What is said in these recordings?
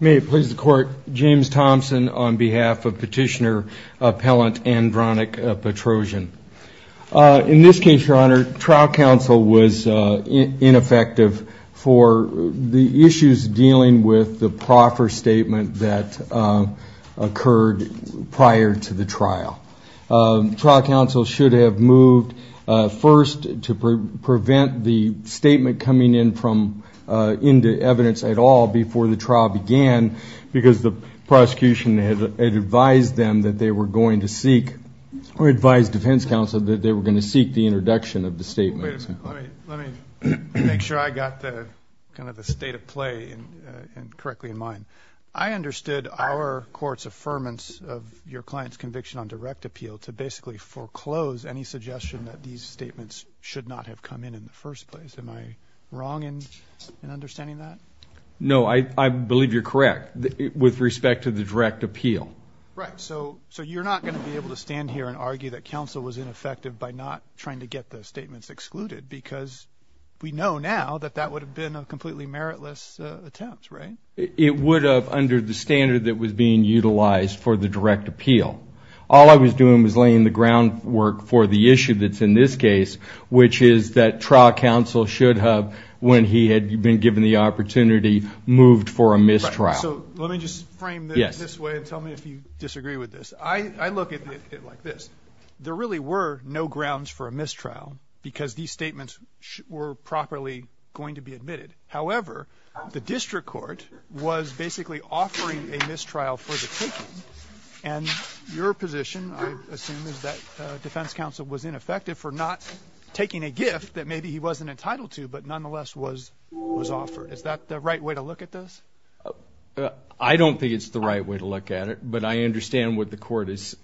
May it please the Court, James Thompson on behalf of Petitioner Appellant Andranik Petrosian. In this case, Your Honor, trial counsel was ineffective for the issues dealing with the proffer statement that occurred prior to the trial. Trial counsel should have moved first to prevent the statement coming in from Petrosian and then moved to Andranik Petrosian. Andranik Petrosian v. Petrosian May I ask counsel if there was any evidence at all before the trial began because the prosecution had advised them that they were going to seek, or advised defense counsel that they were going to seek the introduction of the statement. Let me make sure I got the state of play correctly in mind. I understood our court's affirmance of your client's conviction on direct appeal to basically foreclose any suggestion that these statements should not have come in in the first place. Am I wrong in understanding that? No, I believe you're correct with respect to the direct appeal. Right, so you're not going to be able to stand here and argue that counsel was ineffective by not trying to get the statements excluded because we know now that that would have been a completely meritless attempt, right? It would have under the standard that was being utilized for the direct appeal. All I was doing was laying the groundwork for the issue that's in this case, which is that trial counsel should have, when he had been given the opportunity, moved for a mistrial. So let me just frame this this way and tell me if you disagree with this. I look at it like this. There really were no grounds for a mistrial because these statements were properly going to be admitted. However, the district court was basically offering a mistrial for the taking, and your position, I assume, is that defense counsel was ineffective for not taking a gift that maybe he wasn't entitled to but nonetheless was offered. Is that the right way to look at this? I don't think it's the right way to look at it, but I understand what the court is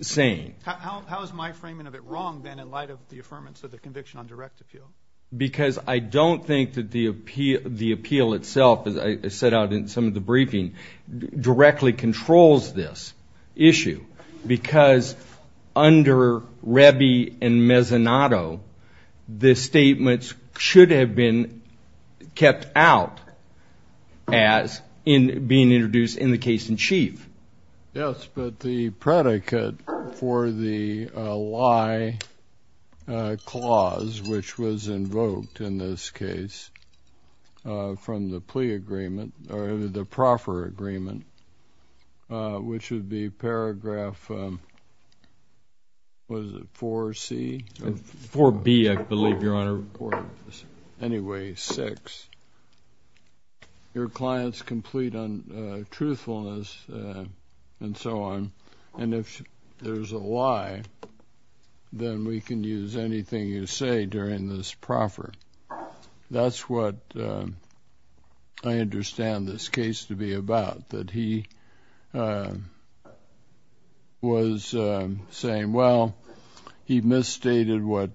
saying. How is my framing of it wrong, then, in light of the affirmance of the conviction on direct appeal? Because I don't think that the appeal itself, as I set out in some of the briefing, directly controls this issue because under Rebbi and Mezzanotto, the statements should have been kept out as being introduced in the case in chief. Yes, but the predicate for the lie clause, which was invoked in this case from the plea agreement, or the proffer agreement, which would be paragraph, what is it, 4C? 4B, I believe, Your Honor. Anyway, 6. Your client's complete untruthfulness, and so on, and if there's a lie, then we can use anything you say during this proffer. That's what I understand this case to be about, that he was saying, well, he misstated what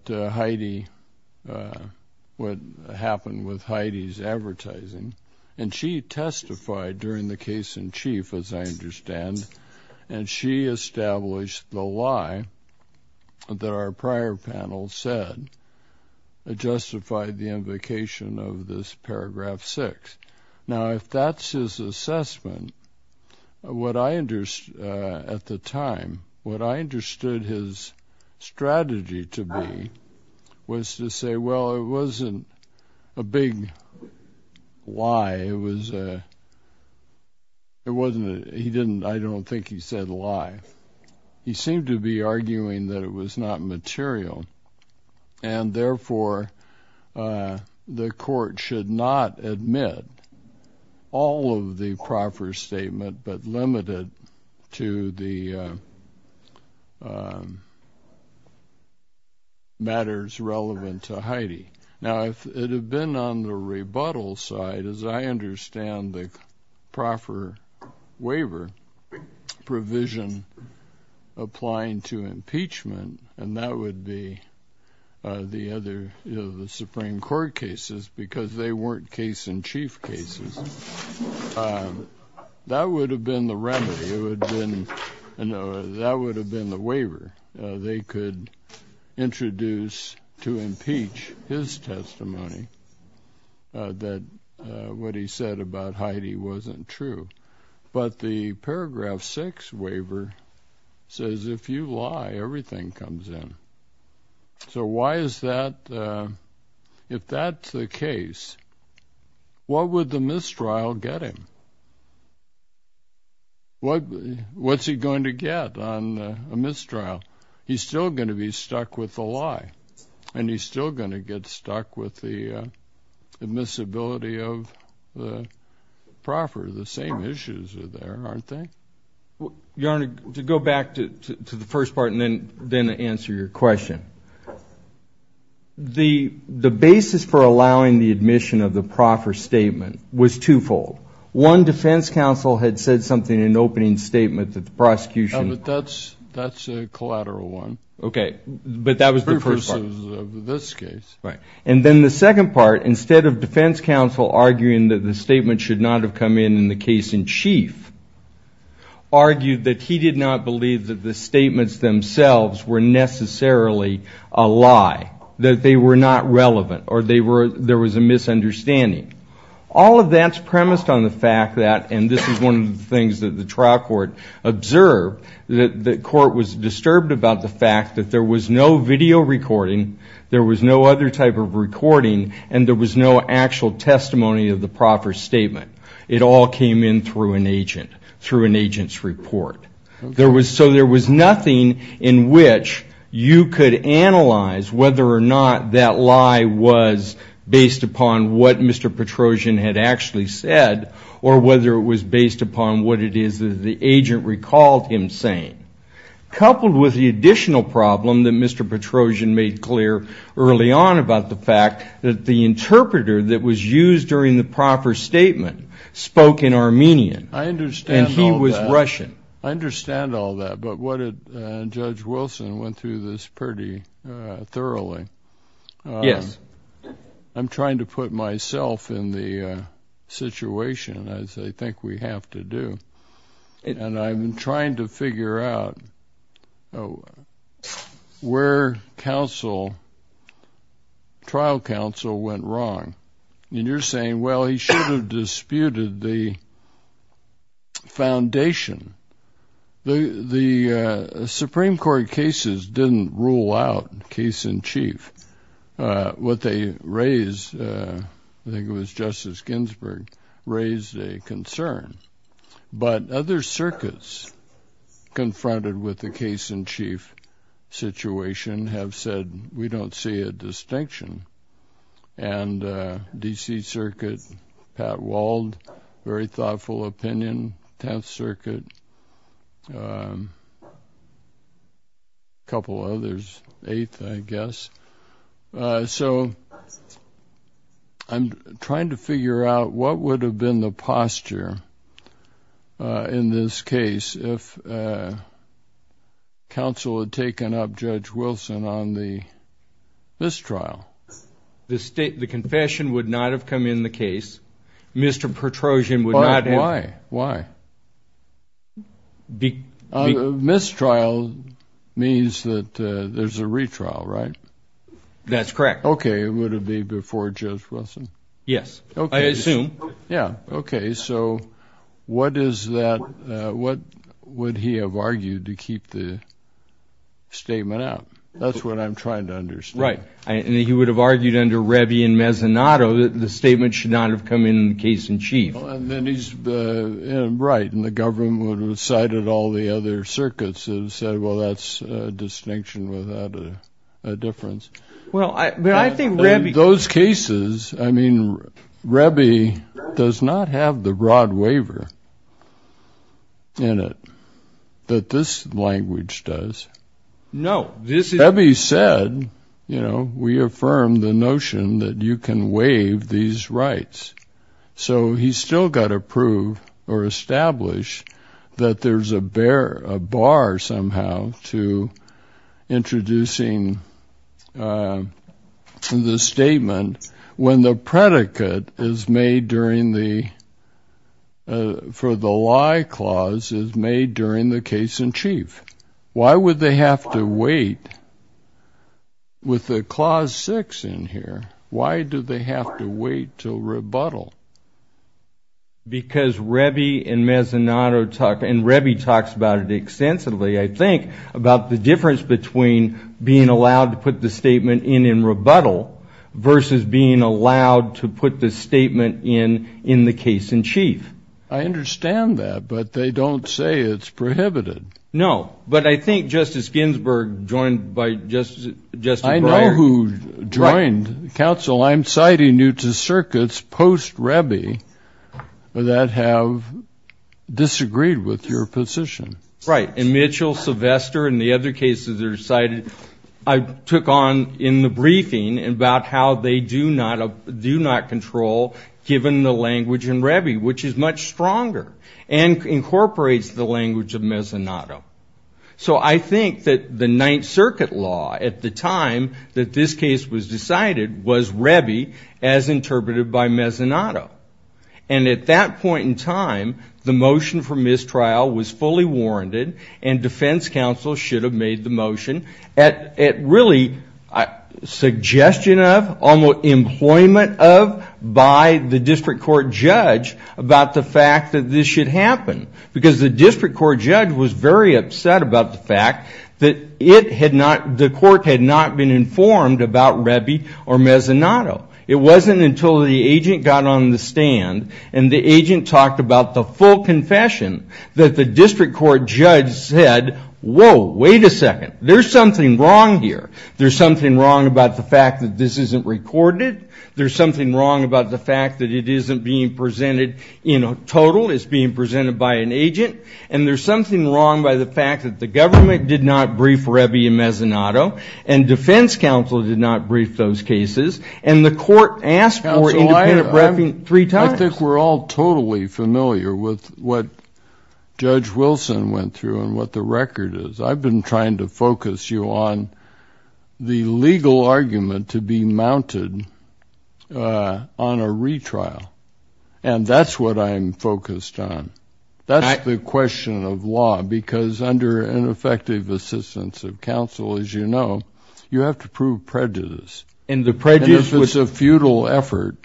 happened with Heidi's advertising, and she testified during the case in chief, as I understand, and she established the lie that our prior panel said justified the invocation of this paragraph 6. Now, if that's his assessment, at the time, what I understood his strategy to be was to say, well, it wasn't a big lie. It wasn't a, he didn't, I don't think he said a lie. He seemed to be arguing that it was not material, and therefore, the court should not admit all of the proffer statement but limited to the matters relevant to Heidi. Now, if it had been on the rebuttal side, as I understand the proffer waiver provision applying to impeachment, and that would be the other, you know, the Supreme Court cases, because they weren't case-in-chief cases, that would have been the remedy. It would have been, you know, that would have been the waiver. They could introduce to impeach his testimony that what he said about Heidi wasn't true. But the paragraph 6 waiver says if you lie, everything comes in. So why is that, if that's the case, what would the mistrial get him? What's he going to get on a mistrial? He's still going to be stuck with the lie, and he's still going to get stuck with the admissibility of the proffer. The same issues are there, aren't they? Your Honor, to go back to the first part and then answer your question, the basis for allowing the admission of the proffer statement was twofold. One, defense counsel had said something in the opening statement that the prosecution But that's a collateral one. Okay. But that was the first part. Precursors of this case. Right. And then the second part, instead of defense counsel arguing that the statement should not have come in in the case-in-chief, argued that he did not believe that the statements themselves were necessarily a lie, that they were not relevant, or there was a misunderstanding. All of that's premised on the fact that, and this is one of the things that the trial court observed, that the court was disturbed about the fact that there was no video recording, there was no other type of recording, and there was no actual testimony of the proffer statement. It all came in through an agent, through an agent's report. So there was nothing in which you could analyze whether or not that lie was based upon what Mr. Petrosian had actually said or whether it was based upon what it is that the agent recalled him saying. Coupled with the additional problem that Mr. Petrosian made clear early on about the fact that the interpreter that was used during the proffer statement spoke in Armenian. I understand all that. And he was Russian. I understand all that. But Judge Wilson went through this pretty thoroughly. Yes. I'm trying to put myself in the situation, as I think we have to do, and I'm trying to figure out where trial counsel went wrong. And you're saying, well, he should have disputed the foundation. The Supreme Court cases didn't rule out case-in-chief. What they raised, I think it was Justice Ginsburg, raised a concern. But other circuits confronted with the case-in-chief situation have said, we don't see a distinction. And D.C. Circuit, Pat Wald, very thoughtful opinion, Tenth Circuit, a couple others, Eighth, I guess. So I'm trying to figure out what would have been the posture in this case if counsel had taken up Judge Wilson on the mistrial. The state, the confession would not have come in the case. Mr. Petrosian would not have. Why? Why? Mistrial means that there's a retrial, right? That's correct. Okay. It would have been before Judge Wilson? Yes. I assume. Yeah. Okay. So what is that, what would he have argued to keep the statement out? That's what I'm trying to understand. Right. And he would have argued under Revy and Mezzanotto that the statement should not have come in the case-in-chief. And then he's right. And the government would have cited all the other circuits and said, well, that's a distinction without a difference. Well, I think Revy- Those cases, I mean, Revy does not have the broad waiver in it that this language does. No, this is- He's still got to prove or establish that there's a bar somehow to introducing the statement when the predicate is made during the- for the lie clause is made during the case-in-chief. Why would they have to wait with the clause six in here? Why do they have to wait till rebuttal? Because Revy and Mezzanotto talk, and Revy talks about it extensively, I think, about the difference between being allowed to put the statement in in rebuttal versus being allowed to put the statement in in the case-in-chief. I understand that, but they don't say it's prohibited. No, but I think Justice Ginsburg, joined by Justice Breyer- I know who joined. Counsel, I'm citing you to circuits post-Revy that have disagreed with your position. Right, and Mitchell, Sylvester, and the other cases that are cited, I took on in the briefing about how they do not control, given the language in Revy, which is much stronger and incorporates the language of Mezzanotto. So I think that the Ninth Circuit law at the time that this case was decided was Revy as interpreted by Mezzanotto. And at that point in time, the motion for mistrial was fully warranted, and defense counsel should have made the motion at really suggestion of, almost employment of, by the district court judge about the fact that this should happen. Because the district court judge was very upset about the fact that the court had not been informed about Revy or Mezzanotto. It wasn't until the agent got on the stand, and the agent talked about the full confession, that the district court judge said, whoa, wait a second. There's something wrong here. There's something wrong about the fact that this isn't recorded. There's something wrong about the fact that it isn't being presented in total, it's being presented by an agent. And there's something wrong by the fact that the government did not brief Revy and Mezzanotto, and defense counsel did not brief those cases. And the court asked for independent briefing three times. I think we're all totally familiar with what Judge Wilson went through and what the record is. I've been trying to focus you on the legal argument to be mounted on a retrial. And that's what I'm focused on. That's the question of law, because under ineffective assistance of counsel, as you know, you have to prove prejudice. And if it's a futile effort,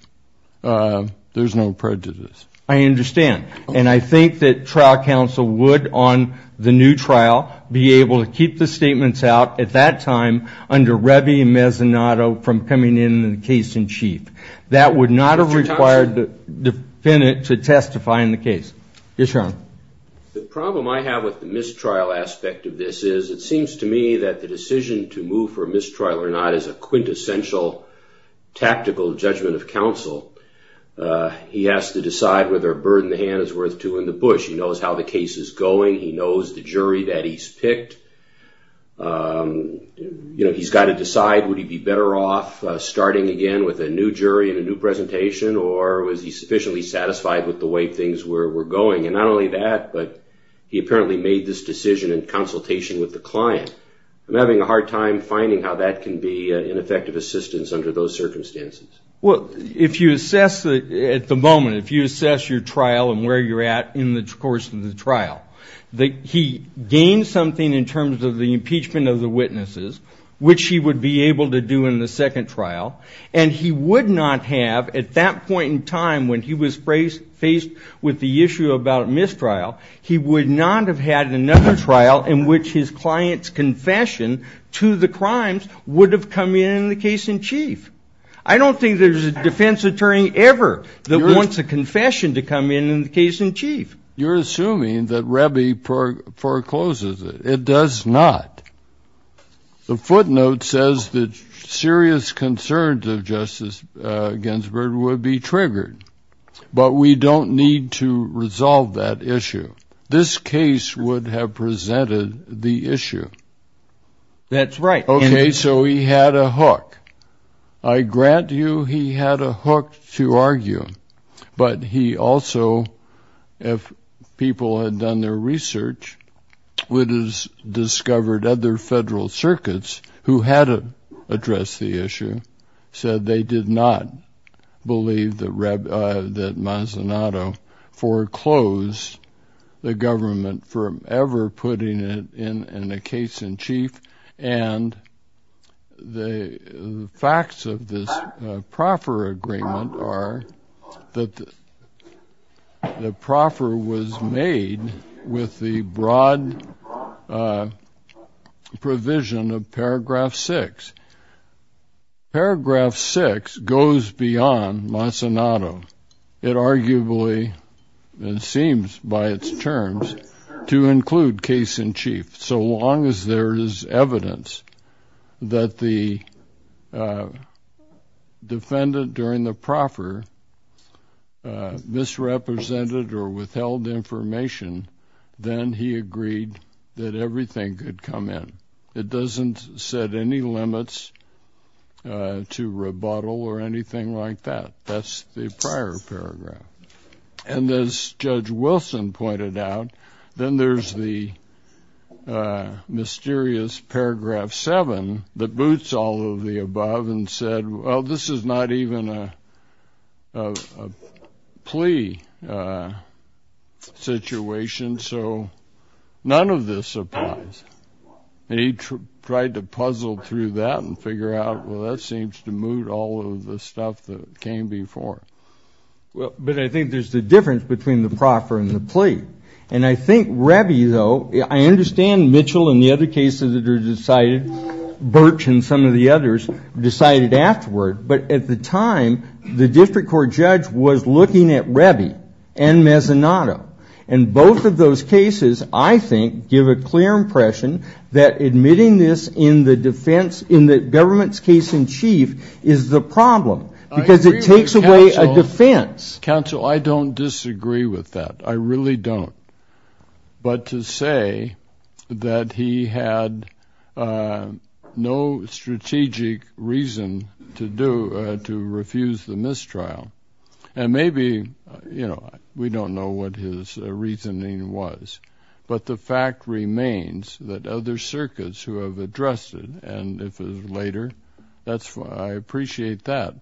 there's no prejudice. I understand. And I think that trial counsel would, on the new trial, be able to keep the statements out at that time under Revy and Mezzanotto from coming in the case in chief. That would not have required the defendant to testify in the case. Yes, Your Honor. The problem I have with the mistrial aspect of this is it seems to me that the decision to move for mistrial or not is a quintessential tactical judgment of counsel. He has to decide whether a bird in the hand is worth two in the bush. He knows how the case is going. He knows the jury that he's picked. He's got to decide, would he be better off starting again with a new jury and a new presentation, or was he sufficiently satisfied with the way things were going? And not only that, but he apparently made this decision in consultation with the client. I'm having a hard time finding how that can be ineffective assistance under those circumstances. Well, if you assess at the moment, if you assess your trial and where you're at in the course of the trial, he gained something in terms of the impeachment of the witnesses, which he would be able to do in the second trial. And he would not have at that point in time when he was faced with the issue about mistrial, he would not have had another trial in which his client's confession to the crimes would have come in in the case in chief. I don't think there's a defense attorney ever that wants a confession to come in in the case in chief. You're assuming that Rebbi forecloses it. It does not. The footnote says that serious concerns of Justice Ginsburg would be triggered, but we don't need to resolve that issue. This case would have presented the issue. That's right. So he had a hook. I grant you he had a hook to argue, but he also, if people had done their research, would have discovered other federal circuits who had addressed the issue said they did not believe that Mazinato foreclosed the government from ever putting it in a case in chief. And the facts of this proffer agreement are that the proffer was made with the broad provision of paragraph six. Paragraph six goes beyond Mazinato. It arguably, it seems by its terms, to include case in chief, so long as there is evidence that the defendant during the proffer misrepresented or withheld information, then he agreed that everything could come in. It doesn't set any limits to rebuttal or anything like that. That's the prior paragraph. And as Judge Wilson pointed out, then there's the mysterious paragraph seven that boots all of the above and said, well, this is not even a plea situation. So none of this applies. And he tried to puzzle through that and figure out, well, that seems to moot all of the stuff that came before. But I think there's the difference between the proffer and the plea. And I think Rebbi, though, I understand Mitchell and the other cases that are decided, Birch and some of the others decided afterward. But at the time, the district court judge was looking at Rebbi and Mazinato. And both of those cases, I think, give a clear impression that admitting this in the defense in the government's case in chief is the problem because it takes away a defense. Counsel, I don't disagree with that. I really don't. But to say that he had no strategic reason to do to refuse the mistrial. And maybe, you know, we don't know what his reasoning was. But the fact remains that other circuits who have addressed it, and if it was later, I appreciate that.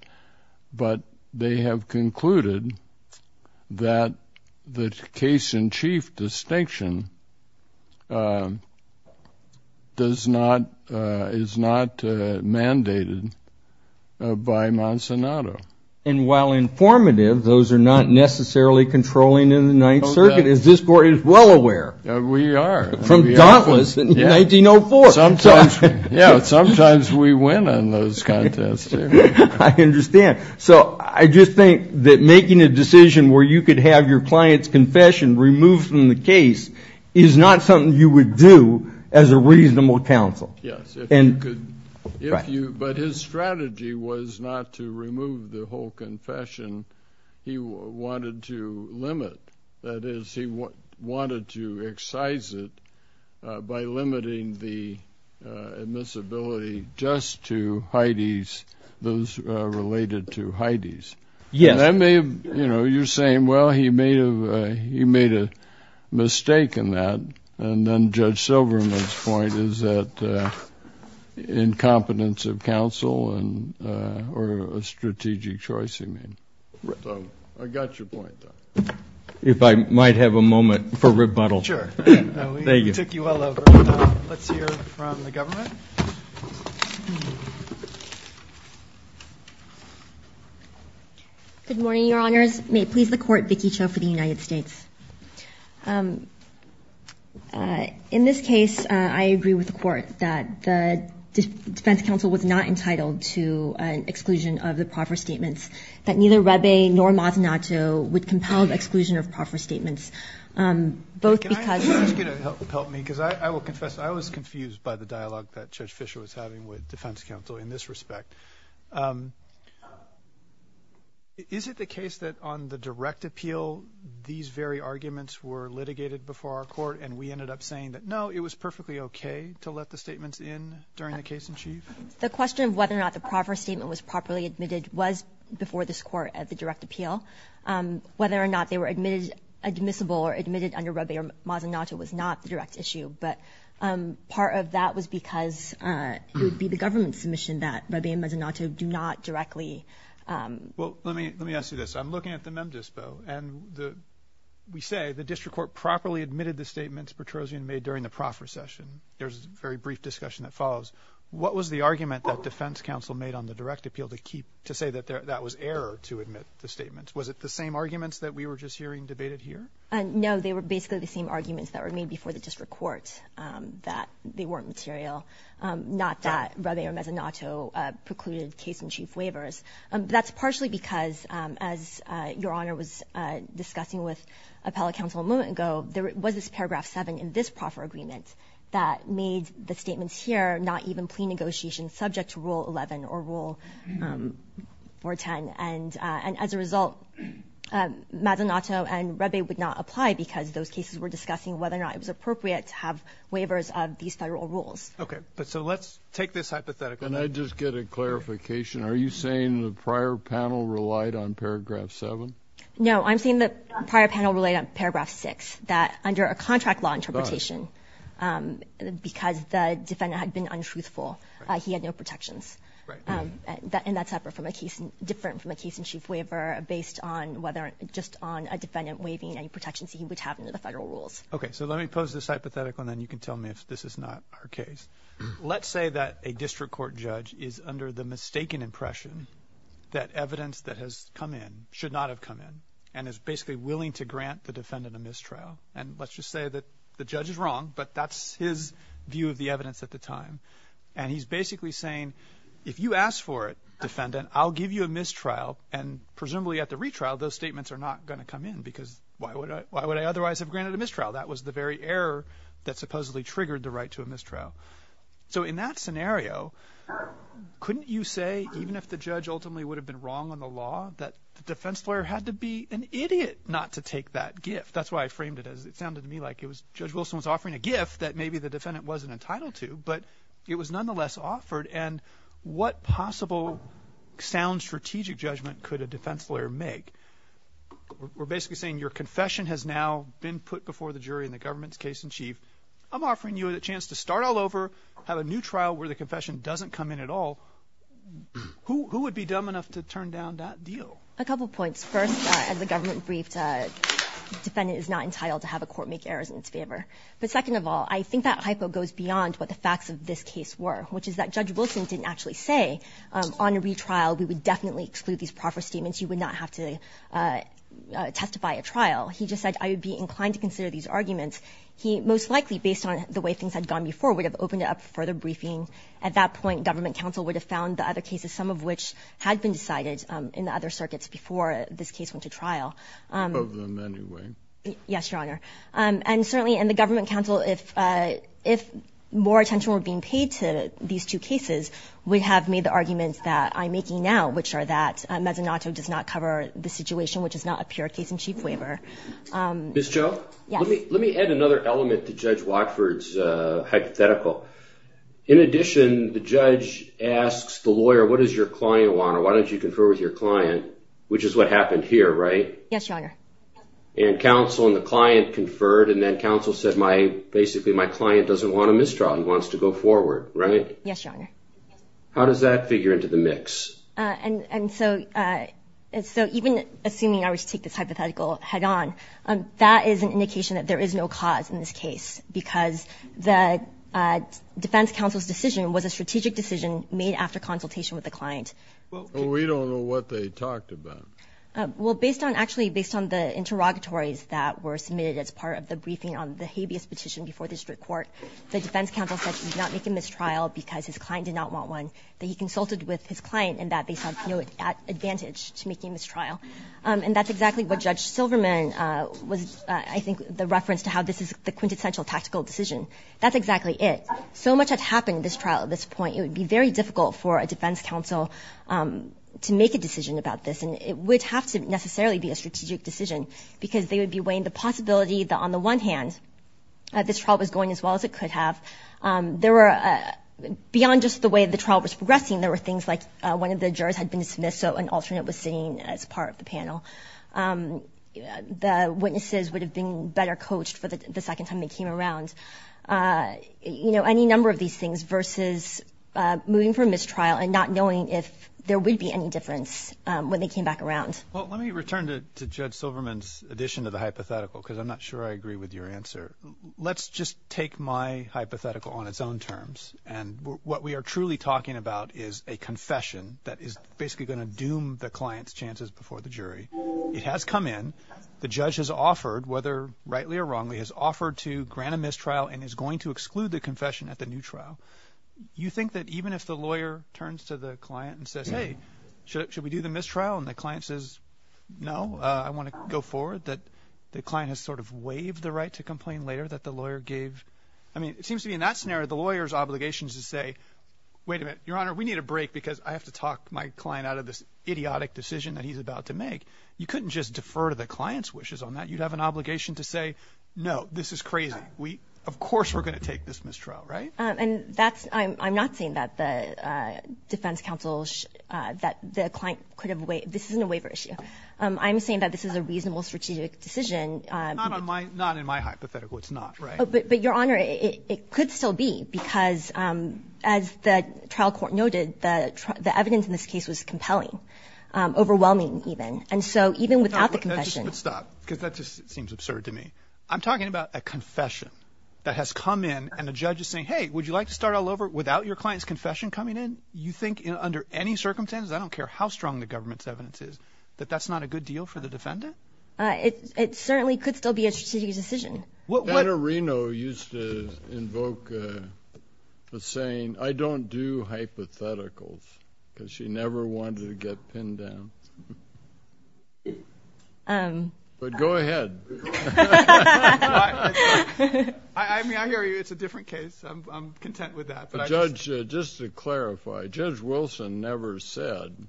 But they have concluded that the case in chief distinction is not mandated by Mazinato. And while informative, those are not necessarily controlling in the Ninth Circuit, as this court is well aware. We are. From Dauntless in 1904. Sometimes, yeah, sometimes we win in those contests. I understand. So I just think that making a decision where you could have your client's confession removed from the case is not something you would do as a reasonable counsel. Yes. But his strategy was not to remove the whole confession. He wanted to limit. That is, he wanted to excise it by limiting the admissibility just to Hydees, those related to Hydees. Yes. You're saying, well, he made a mistake in that. And then Judge Silverman's point is that incompetence of counsel or a strategic choice he made. I got your point. If I might have a moment for rebuttal. Sure. Thank you. We took you all over. Let's hear from the government. Good morning, Your Honors. May it please the Court, Vicki Cho for the United States. In this case, I agree with the Court that the defense counsel was not entitled to an exclusion of the proffer statements, that neither Rebbe nor Mazzanato would compel the exclusion of proffer statements, both because of. If you could help me, because I will confess I was confused by the dialogue that Judge Fischer was having with defense counsel in this respect. Is it the case that on the direct appeal, these very arguments were litigated before our court and we ended up saying that, no, it was perfectly okay to let the statements in during the case in chief? The question of whether or not the proffer statement was properly admitted was before this Court at the direct appeal. Whether or not they were admissible or admitted under Rebbe or Mazzanato was not the direct issue, but part of that was because it would be the government's submission that Rebbe and Mazzanato do not directly. Well, let me ask you this. I'm looking at the mem dispo, and we say the district court properly admitted the statements Petrosian made during the proffer session. There's a very brief discussion that follows. What was the argument that defense counsel made on the direct appeal to say that that was error to admit the statements? Was it the same arguments that we were just hearing debated here? No, they were basically the same arguments that were made before the district court, that they weren't material, not that Rebbe or Mazzanato precluded case in chief waivers. That's partially because, as Your Honor was discussing with appellate counsel a moment ago, there was this paragraph 7 in this proffer agreement that made the statements here not even plea negotiations subject to Rule 11 or Rule 410. And as a result, Mazzanato and Rebbe would not apply because those cases were discussing whether or not it was appropriate to have waivers of these federal rules. Okay, but so let's take this hypothetically. Can I just get a clarification? Are you saying the prior panel relied on paragraph 7? No, I'm saying the prior panel relied on paragraph 6, that under a contract law interpretation, because the defendant had been untruthful, he had no protections. Right. And that's different from a case in chief waiver based just on a defendant waiving any protections he would have under the federal rules. Okay, so let me pose this hypothetical, and then you can tell me if this is not our case. Let's say that a district court judge is under the mistaken impression that evidence that has come in should not have come in and is basically willing to grant the defendant a mistrial. And let's just say that the judge is wrong, but that's his view of the evidence at the time. And he's basically saying, if you ask for it, defendant, I'll give you a mistrial, and presumably at the retrial those statements are not going to come in because why would I otherwise have granted a mistrial? That was the very error that supposedly triggered the right to a mistrial. So in that scenario, couldn't you say, even if the judge ultimately would have been wrong on the law, that the defense lawyer had to be an idiot not to take that gift? That's why I framed it as it sounded to me like it was Judge Wilson was offering a gift that maybe the defendant wasn't entitled to, but it was nonetheless offered, and what possible sound strategic judgment could a defense lawyer make? We're basically saying your confession has now been put before the jury in the government's case in chief. I'm offering you a chance to start all over, have a new trial where the confession doesn't come in at all. Who would be dumb enough to turn down that deal? A couple points. First, as the government briefed, defendant is not entitled to have a court make errors in its favor. But second of all, I think that hypo goes beyond what the facts of this case were, which is that Judge Wilson didn't actually say, on a retrial we would definitely exclude these proper statements. You would not have to testify at trial. He just said, I would be inclined to consider these arguments. He most likely, based on the way things had gone before, would have opened it up for further briefing. At that point, government counsel would have found the other cases, some of which had been decided in the other circuits before this case went to trial. Of them anyway. Yes, Your Honor. And certainly in the government counsel, if more attention were being paid to these two cases, we have made the arguments that I'm making now, which are that Mezzanotto does not cover the situation, which is not a pure case in chief waiver. Ms. Cho? Yes. Let me add another element to Judge Watford's hypothetical. In addition, the judge asks the lawyer, what does your client want? Or why don't you confer with your client? Which is what happened here, right? Yes, Your Honor. And counsel and the client conferred. And then counsel said, basically my client doesn't want a mistrial. He wants to go forward, right? Yes, Your Honor. How does that figure into the mix? And so even assuming I were to take this hypothetical head-on, that is an indication that there is no cause in this case, because the defense counsel's decision was a strategic decision made after consultation with the client. Well, we don't know what they talked about. Well, actually, based on the interrogatories that were submitted as part of the briefing on the habeas petition before the district court, the defense counsel said he did not make a mistrial because his client did not want one, that he consulted with his client and that they saw no advantage to making a mistrial. And that's exactly what Judge Silverman was, I think, the reference to how this is the quintessential tactical decision. That's exactly it. So much had happened in this trial at this point. It would be very difficult for a defense counsel to make a decision about this. And it would have to necessarily be a strategic decision, because they would be weighing the possibility that, on the one hand, this trial was going as well as it could have. There were, beyond just the way the trial was progressing, there were things like one of the jurors had been dismissed, so an alternate was sitting as part of the panel. The witnesses would have been better coached for the second time they came around. You know, any number of these things versus moving from mistrial and not knowing if there would be any difference when they came back around. Well, let me return to Judge Silverman's addition to the hypothetical, because I'm not sure I agree with your answer. Let's just take my hypothetical on its own terms. And what we are truly talking about is a confession that is basically going to doom the client's chances before the jury. It has come in. The judge has offered, whether rightly or wrongly, has offered to grant a mistrial and is going to exclude the confession at the new trial. You think that even if the lawyer turns to the client and says, hey, should we do the mistrial, and the client says, no, I want to go forward, that the client has sort of waived the right to complain later that the lawyer gave? I mean, it seems to me in that scenario the lawyer's obligation is to say, wait a minute, Your Honor, we need a break because I have to talk my client out of this idiotic decision that he's about to make. You couldn't just defer to the client's wishes on that. You'd have an obligation to say, no, this is crazy. Of course we're going to take this mistrial, right? And I'm not saying that the defense counsel, that the client could have waived. This isn't a waiver issue. I'm saying that this is a reasonable strategic decision. Not in my hypothetical. It's not. But, Your Honor, it could still be because, as the trial court noted, the evidence in this case was compelling, overwhelming even. And so even without the confession. Stop, because that just seems absurd to me. I'm talking about a confession that has come in, and the judge is saying, hey, would you like to start all over without your client's confession coming in? You think under any circumstances, I don't care how strong the government's evidence is, that that's not a good deal for the defendant? It certainly could still be a strategic decision. Senator Reno used to invoke the saying, I don't do hypotheticals, because she never wanted to get pinned down. But go ahead. I hear you. It's a different case. I'm content with that. But, Judge, just to clarify, Judge Wilson never said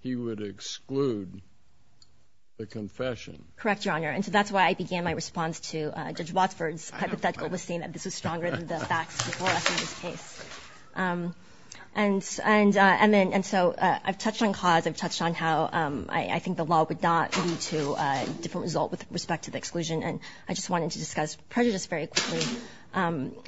he would exclude the confession. Correct, Your Honor. And so that's why I began my response to Judge Watford's hypothetical with saying that this was stronger than the facts before us in this case. And so I've touched on cause. I've touched on how I think the law would not lead to a different result with respect to the exclusion. And I just wanted to discuss prejudice very quickly,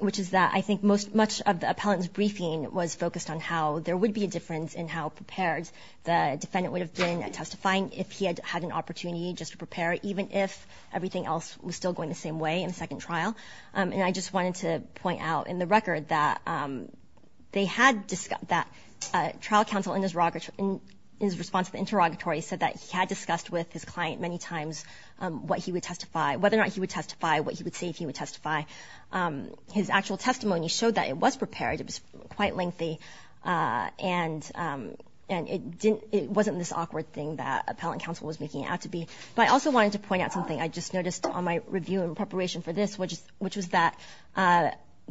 which is that I think much of the appellant's briefing was focused on how there would be a difference in how prepared the defendant would have been at testifying if he had had an opportunity just to prepare, even if everything else was still going the same way in the second trial. And I just wanted to point out in the record that trial counsel in his response to the interrogatory said that he had discussed with his client many times whether or not he would testify, what he would say if he would testify. His actual testimony showed that it was prepared, it was quite lengthy, and it wasn't this awkward thing that appellant counsel was making it out to be. But I also wanted to point out something I just noticed on my review in preparation for this, which was that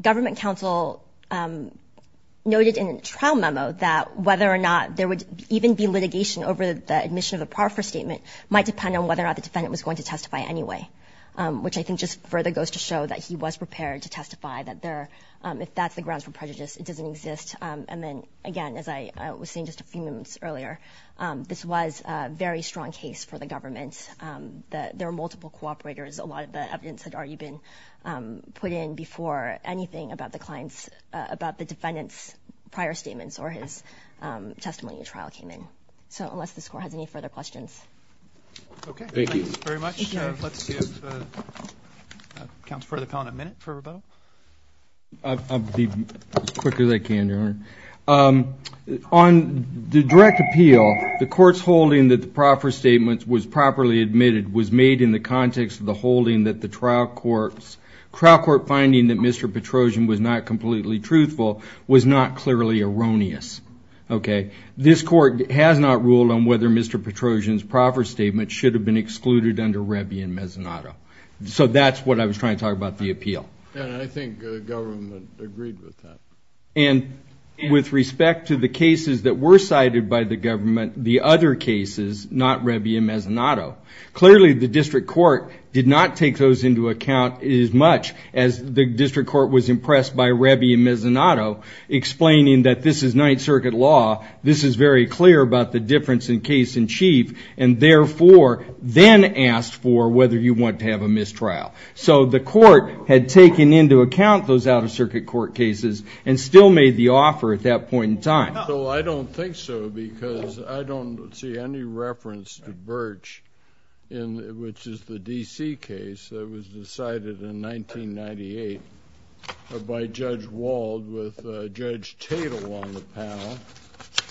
government counsel noted in a trial memo that whether or not there would even be litigation over the admission of a par for statement might depend on whether or not the defendant was going to testify anyway, which I think just further goes to show that he was prepared to testify. If that's the grounds for prejudice, it doesn't exist. And then, again, as I was saying just a few moments earlier, this was a very strong case for the government. There were multiple cooperators. A lot of the evidence had already been put in before anything about the defendant's prior statements or his testimony in the trial came in. So unless this Court has any further questions. Okay. Thank you very much. Let's give counsel for the comment a minute for rebuttal. I'll be as quick as I can, Your Honor. On the direct appeal, the Court's holding that the par for statement was properly admitted was made in the context of the holding that the trial court's finding that Mr. Petrosian was not completely truthful was not clearly erroneous, okay? This Court has not ruled on whether Mr. Petrosian's par for statement should have been excluded under Rebi and Mezzanotto. So that's what I was trying to talk about, the appeal. And I think the government agreed with that. And with respect to the cases that were cited by the government, the other cases, not Rebi and Mezzanotto, clearly the district court did not take those into account as much as the district court was impressed by Rebi and Mezzanotto, explaining that this is Ninth Circuit law, this is very clear about the difference in case in chief, and therefore then asked for whether you want to have a mistrial. So the Court had taken into account those Out-of-Circuit Court cases and still made the offer at that point in time. Well, I don't think so because I don't see any reference to Birch, which is the D.C. case that was decided in 1998 by Judge Wald with Judge Tatel on the panel.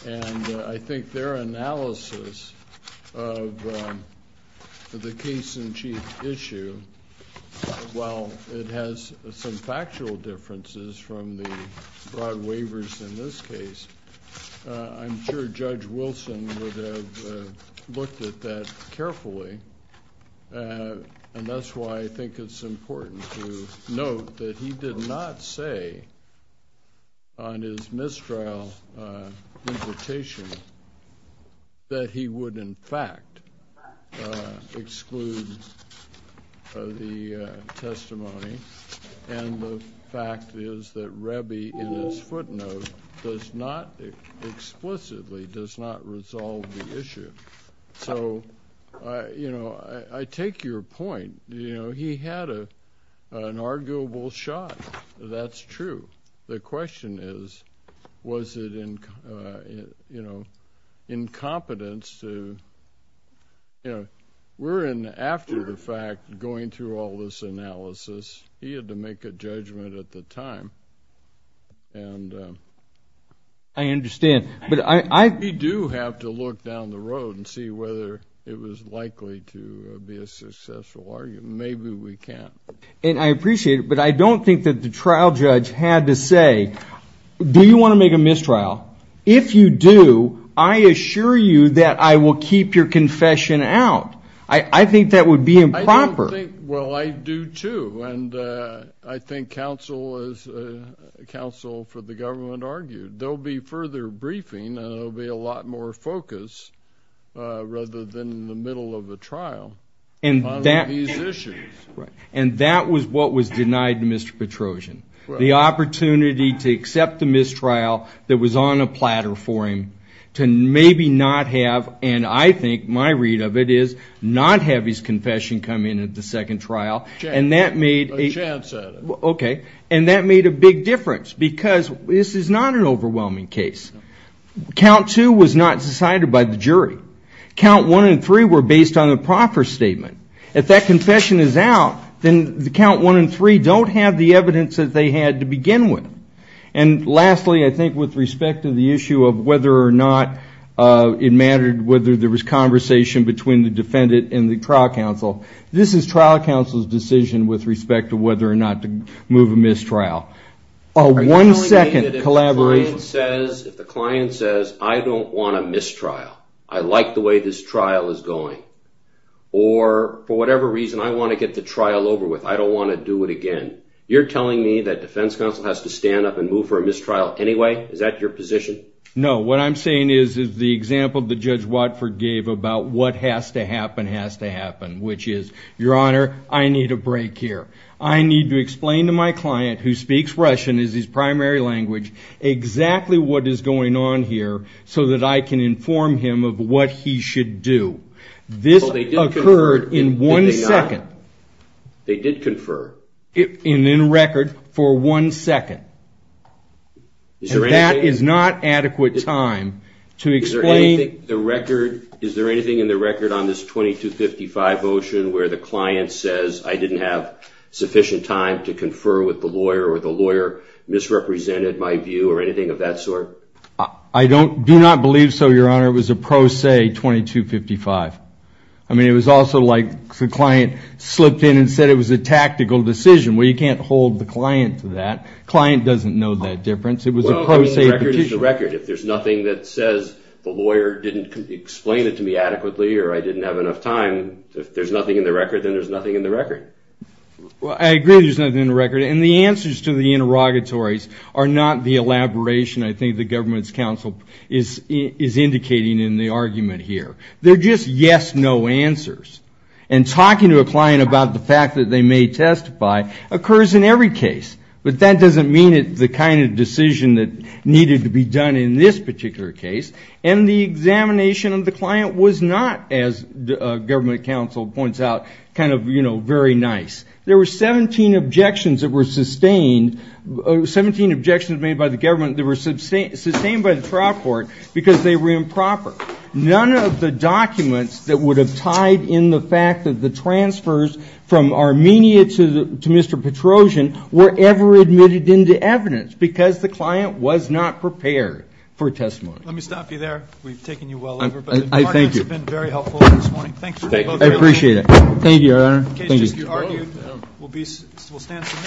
And I think their analysis of the case in chief issue, while it has some factual differences from the broad waivers in this case, I'm sure Judge Wilson would have looked at that carefully. And that's why I think it's important to note that he did not say on his mistrial invitation that he would in fact exclude the testimony. And the fact is that Rebi in his footnote does not explicitly does not resolve the issue. So, you know, I take your point. You know, he had an arguable shot. That's true. The question is was it, you know, incompetence to, you know, we're in after the fact going through all this analysis. He had to make a judgment at the time. And I understand. But I do have to look down the road and see whether it was likely to be a successful argument. Maybe we can't. And I appreciate it. But I don't think that the trial judge had to say, do you want to make a mistrial? If you do, I assure you that I will keep your confession out. I think that would be improper. Well, I do, too. And I think counsel for the government argued there will be further briefing and there will be a lot more focus rather than the middle of the trial on these issues. And that was what was denied to Mr. Petrosian, the opportunity to accept the mistrial that was on a platter for him to maybe not have. And I think my read of it is not have his confession come in at the second trial. And that made a big difference. Because this is not an overwhelming case. Count two was not decided by the jury. Count one and three were based on a proper statement. If that confession is out, then count one and three don't have the evidence that they had to begin with. And lastly, I think with respect to the issue of whether or not it mattered whether there was conversation between the defendant and the trial counsel, this is trial counsel's decision with respect to whether or not to move a mistrial. Are you telling me that if the client says, I don't want a mistrial, I like the way this trial is going, or for whatever reason I want to get the trial over with, I don't want to do it again, you're telling me that defense counsel has to stand up and move for a mistrial anyway? Is that your position? No. What I'm saying is the example that Judge Watford gave about what has to happen has to happen, which is, Your Honor, I need a break here. I need to explain to my client, who speaks Russian as his primary language, exactly what is going on here so that I can inform him of what he should do. This occurred in one second. They did confer. And in record for one second. And that is not adequate time to explain. Is there anything in the record on this 2255 motion where the client says, I didn't have sufficient time to confer with the lawyer or the lawyer misrepresented my view or anything of that sort? I do not believe so, Your Honor. It was a pro se 2255. I mean, it was also like the client slipped in and said it was a tactical decision. Well, you can't hold the client to that. Client doesn't know that difference. It was a pro se decision. Well, I mean, the record is the record. If there's nothing that says the lawyer didn't explain it to me adequately or I didn't have enough time, if there's nothing in the record, then there's nothing in the record. Well, I agree there's nothing in the record. And the answers to the interrogatories are not the elaboration I think the government's counsel is indicating in the argument here. They're just yes-no answers. And talking to a client about the fact that they may testify occurs in every case. But that doesn't mean it's the kind of decision that needed to be done in this particular case. And the examination of the client was not, as government counsel points out, kind of, you know, very nice. There were 17 objections that were sustained, 17 objections made by the government that were sustained by the trial court because they were improper. None of the documents that would have tied in the fact that the transfers from Armenia to Mr. Petrosian were ever admitted into evidence because the client was not prepared for testimony. Let me stop you there. We've taken you well over. Thank you. It's been very helpful this morning. Thank you. I appreciate it. Thank you, Your Honor. Thank you.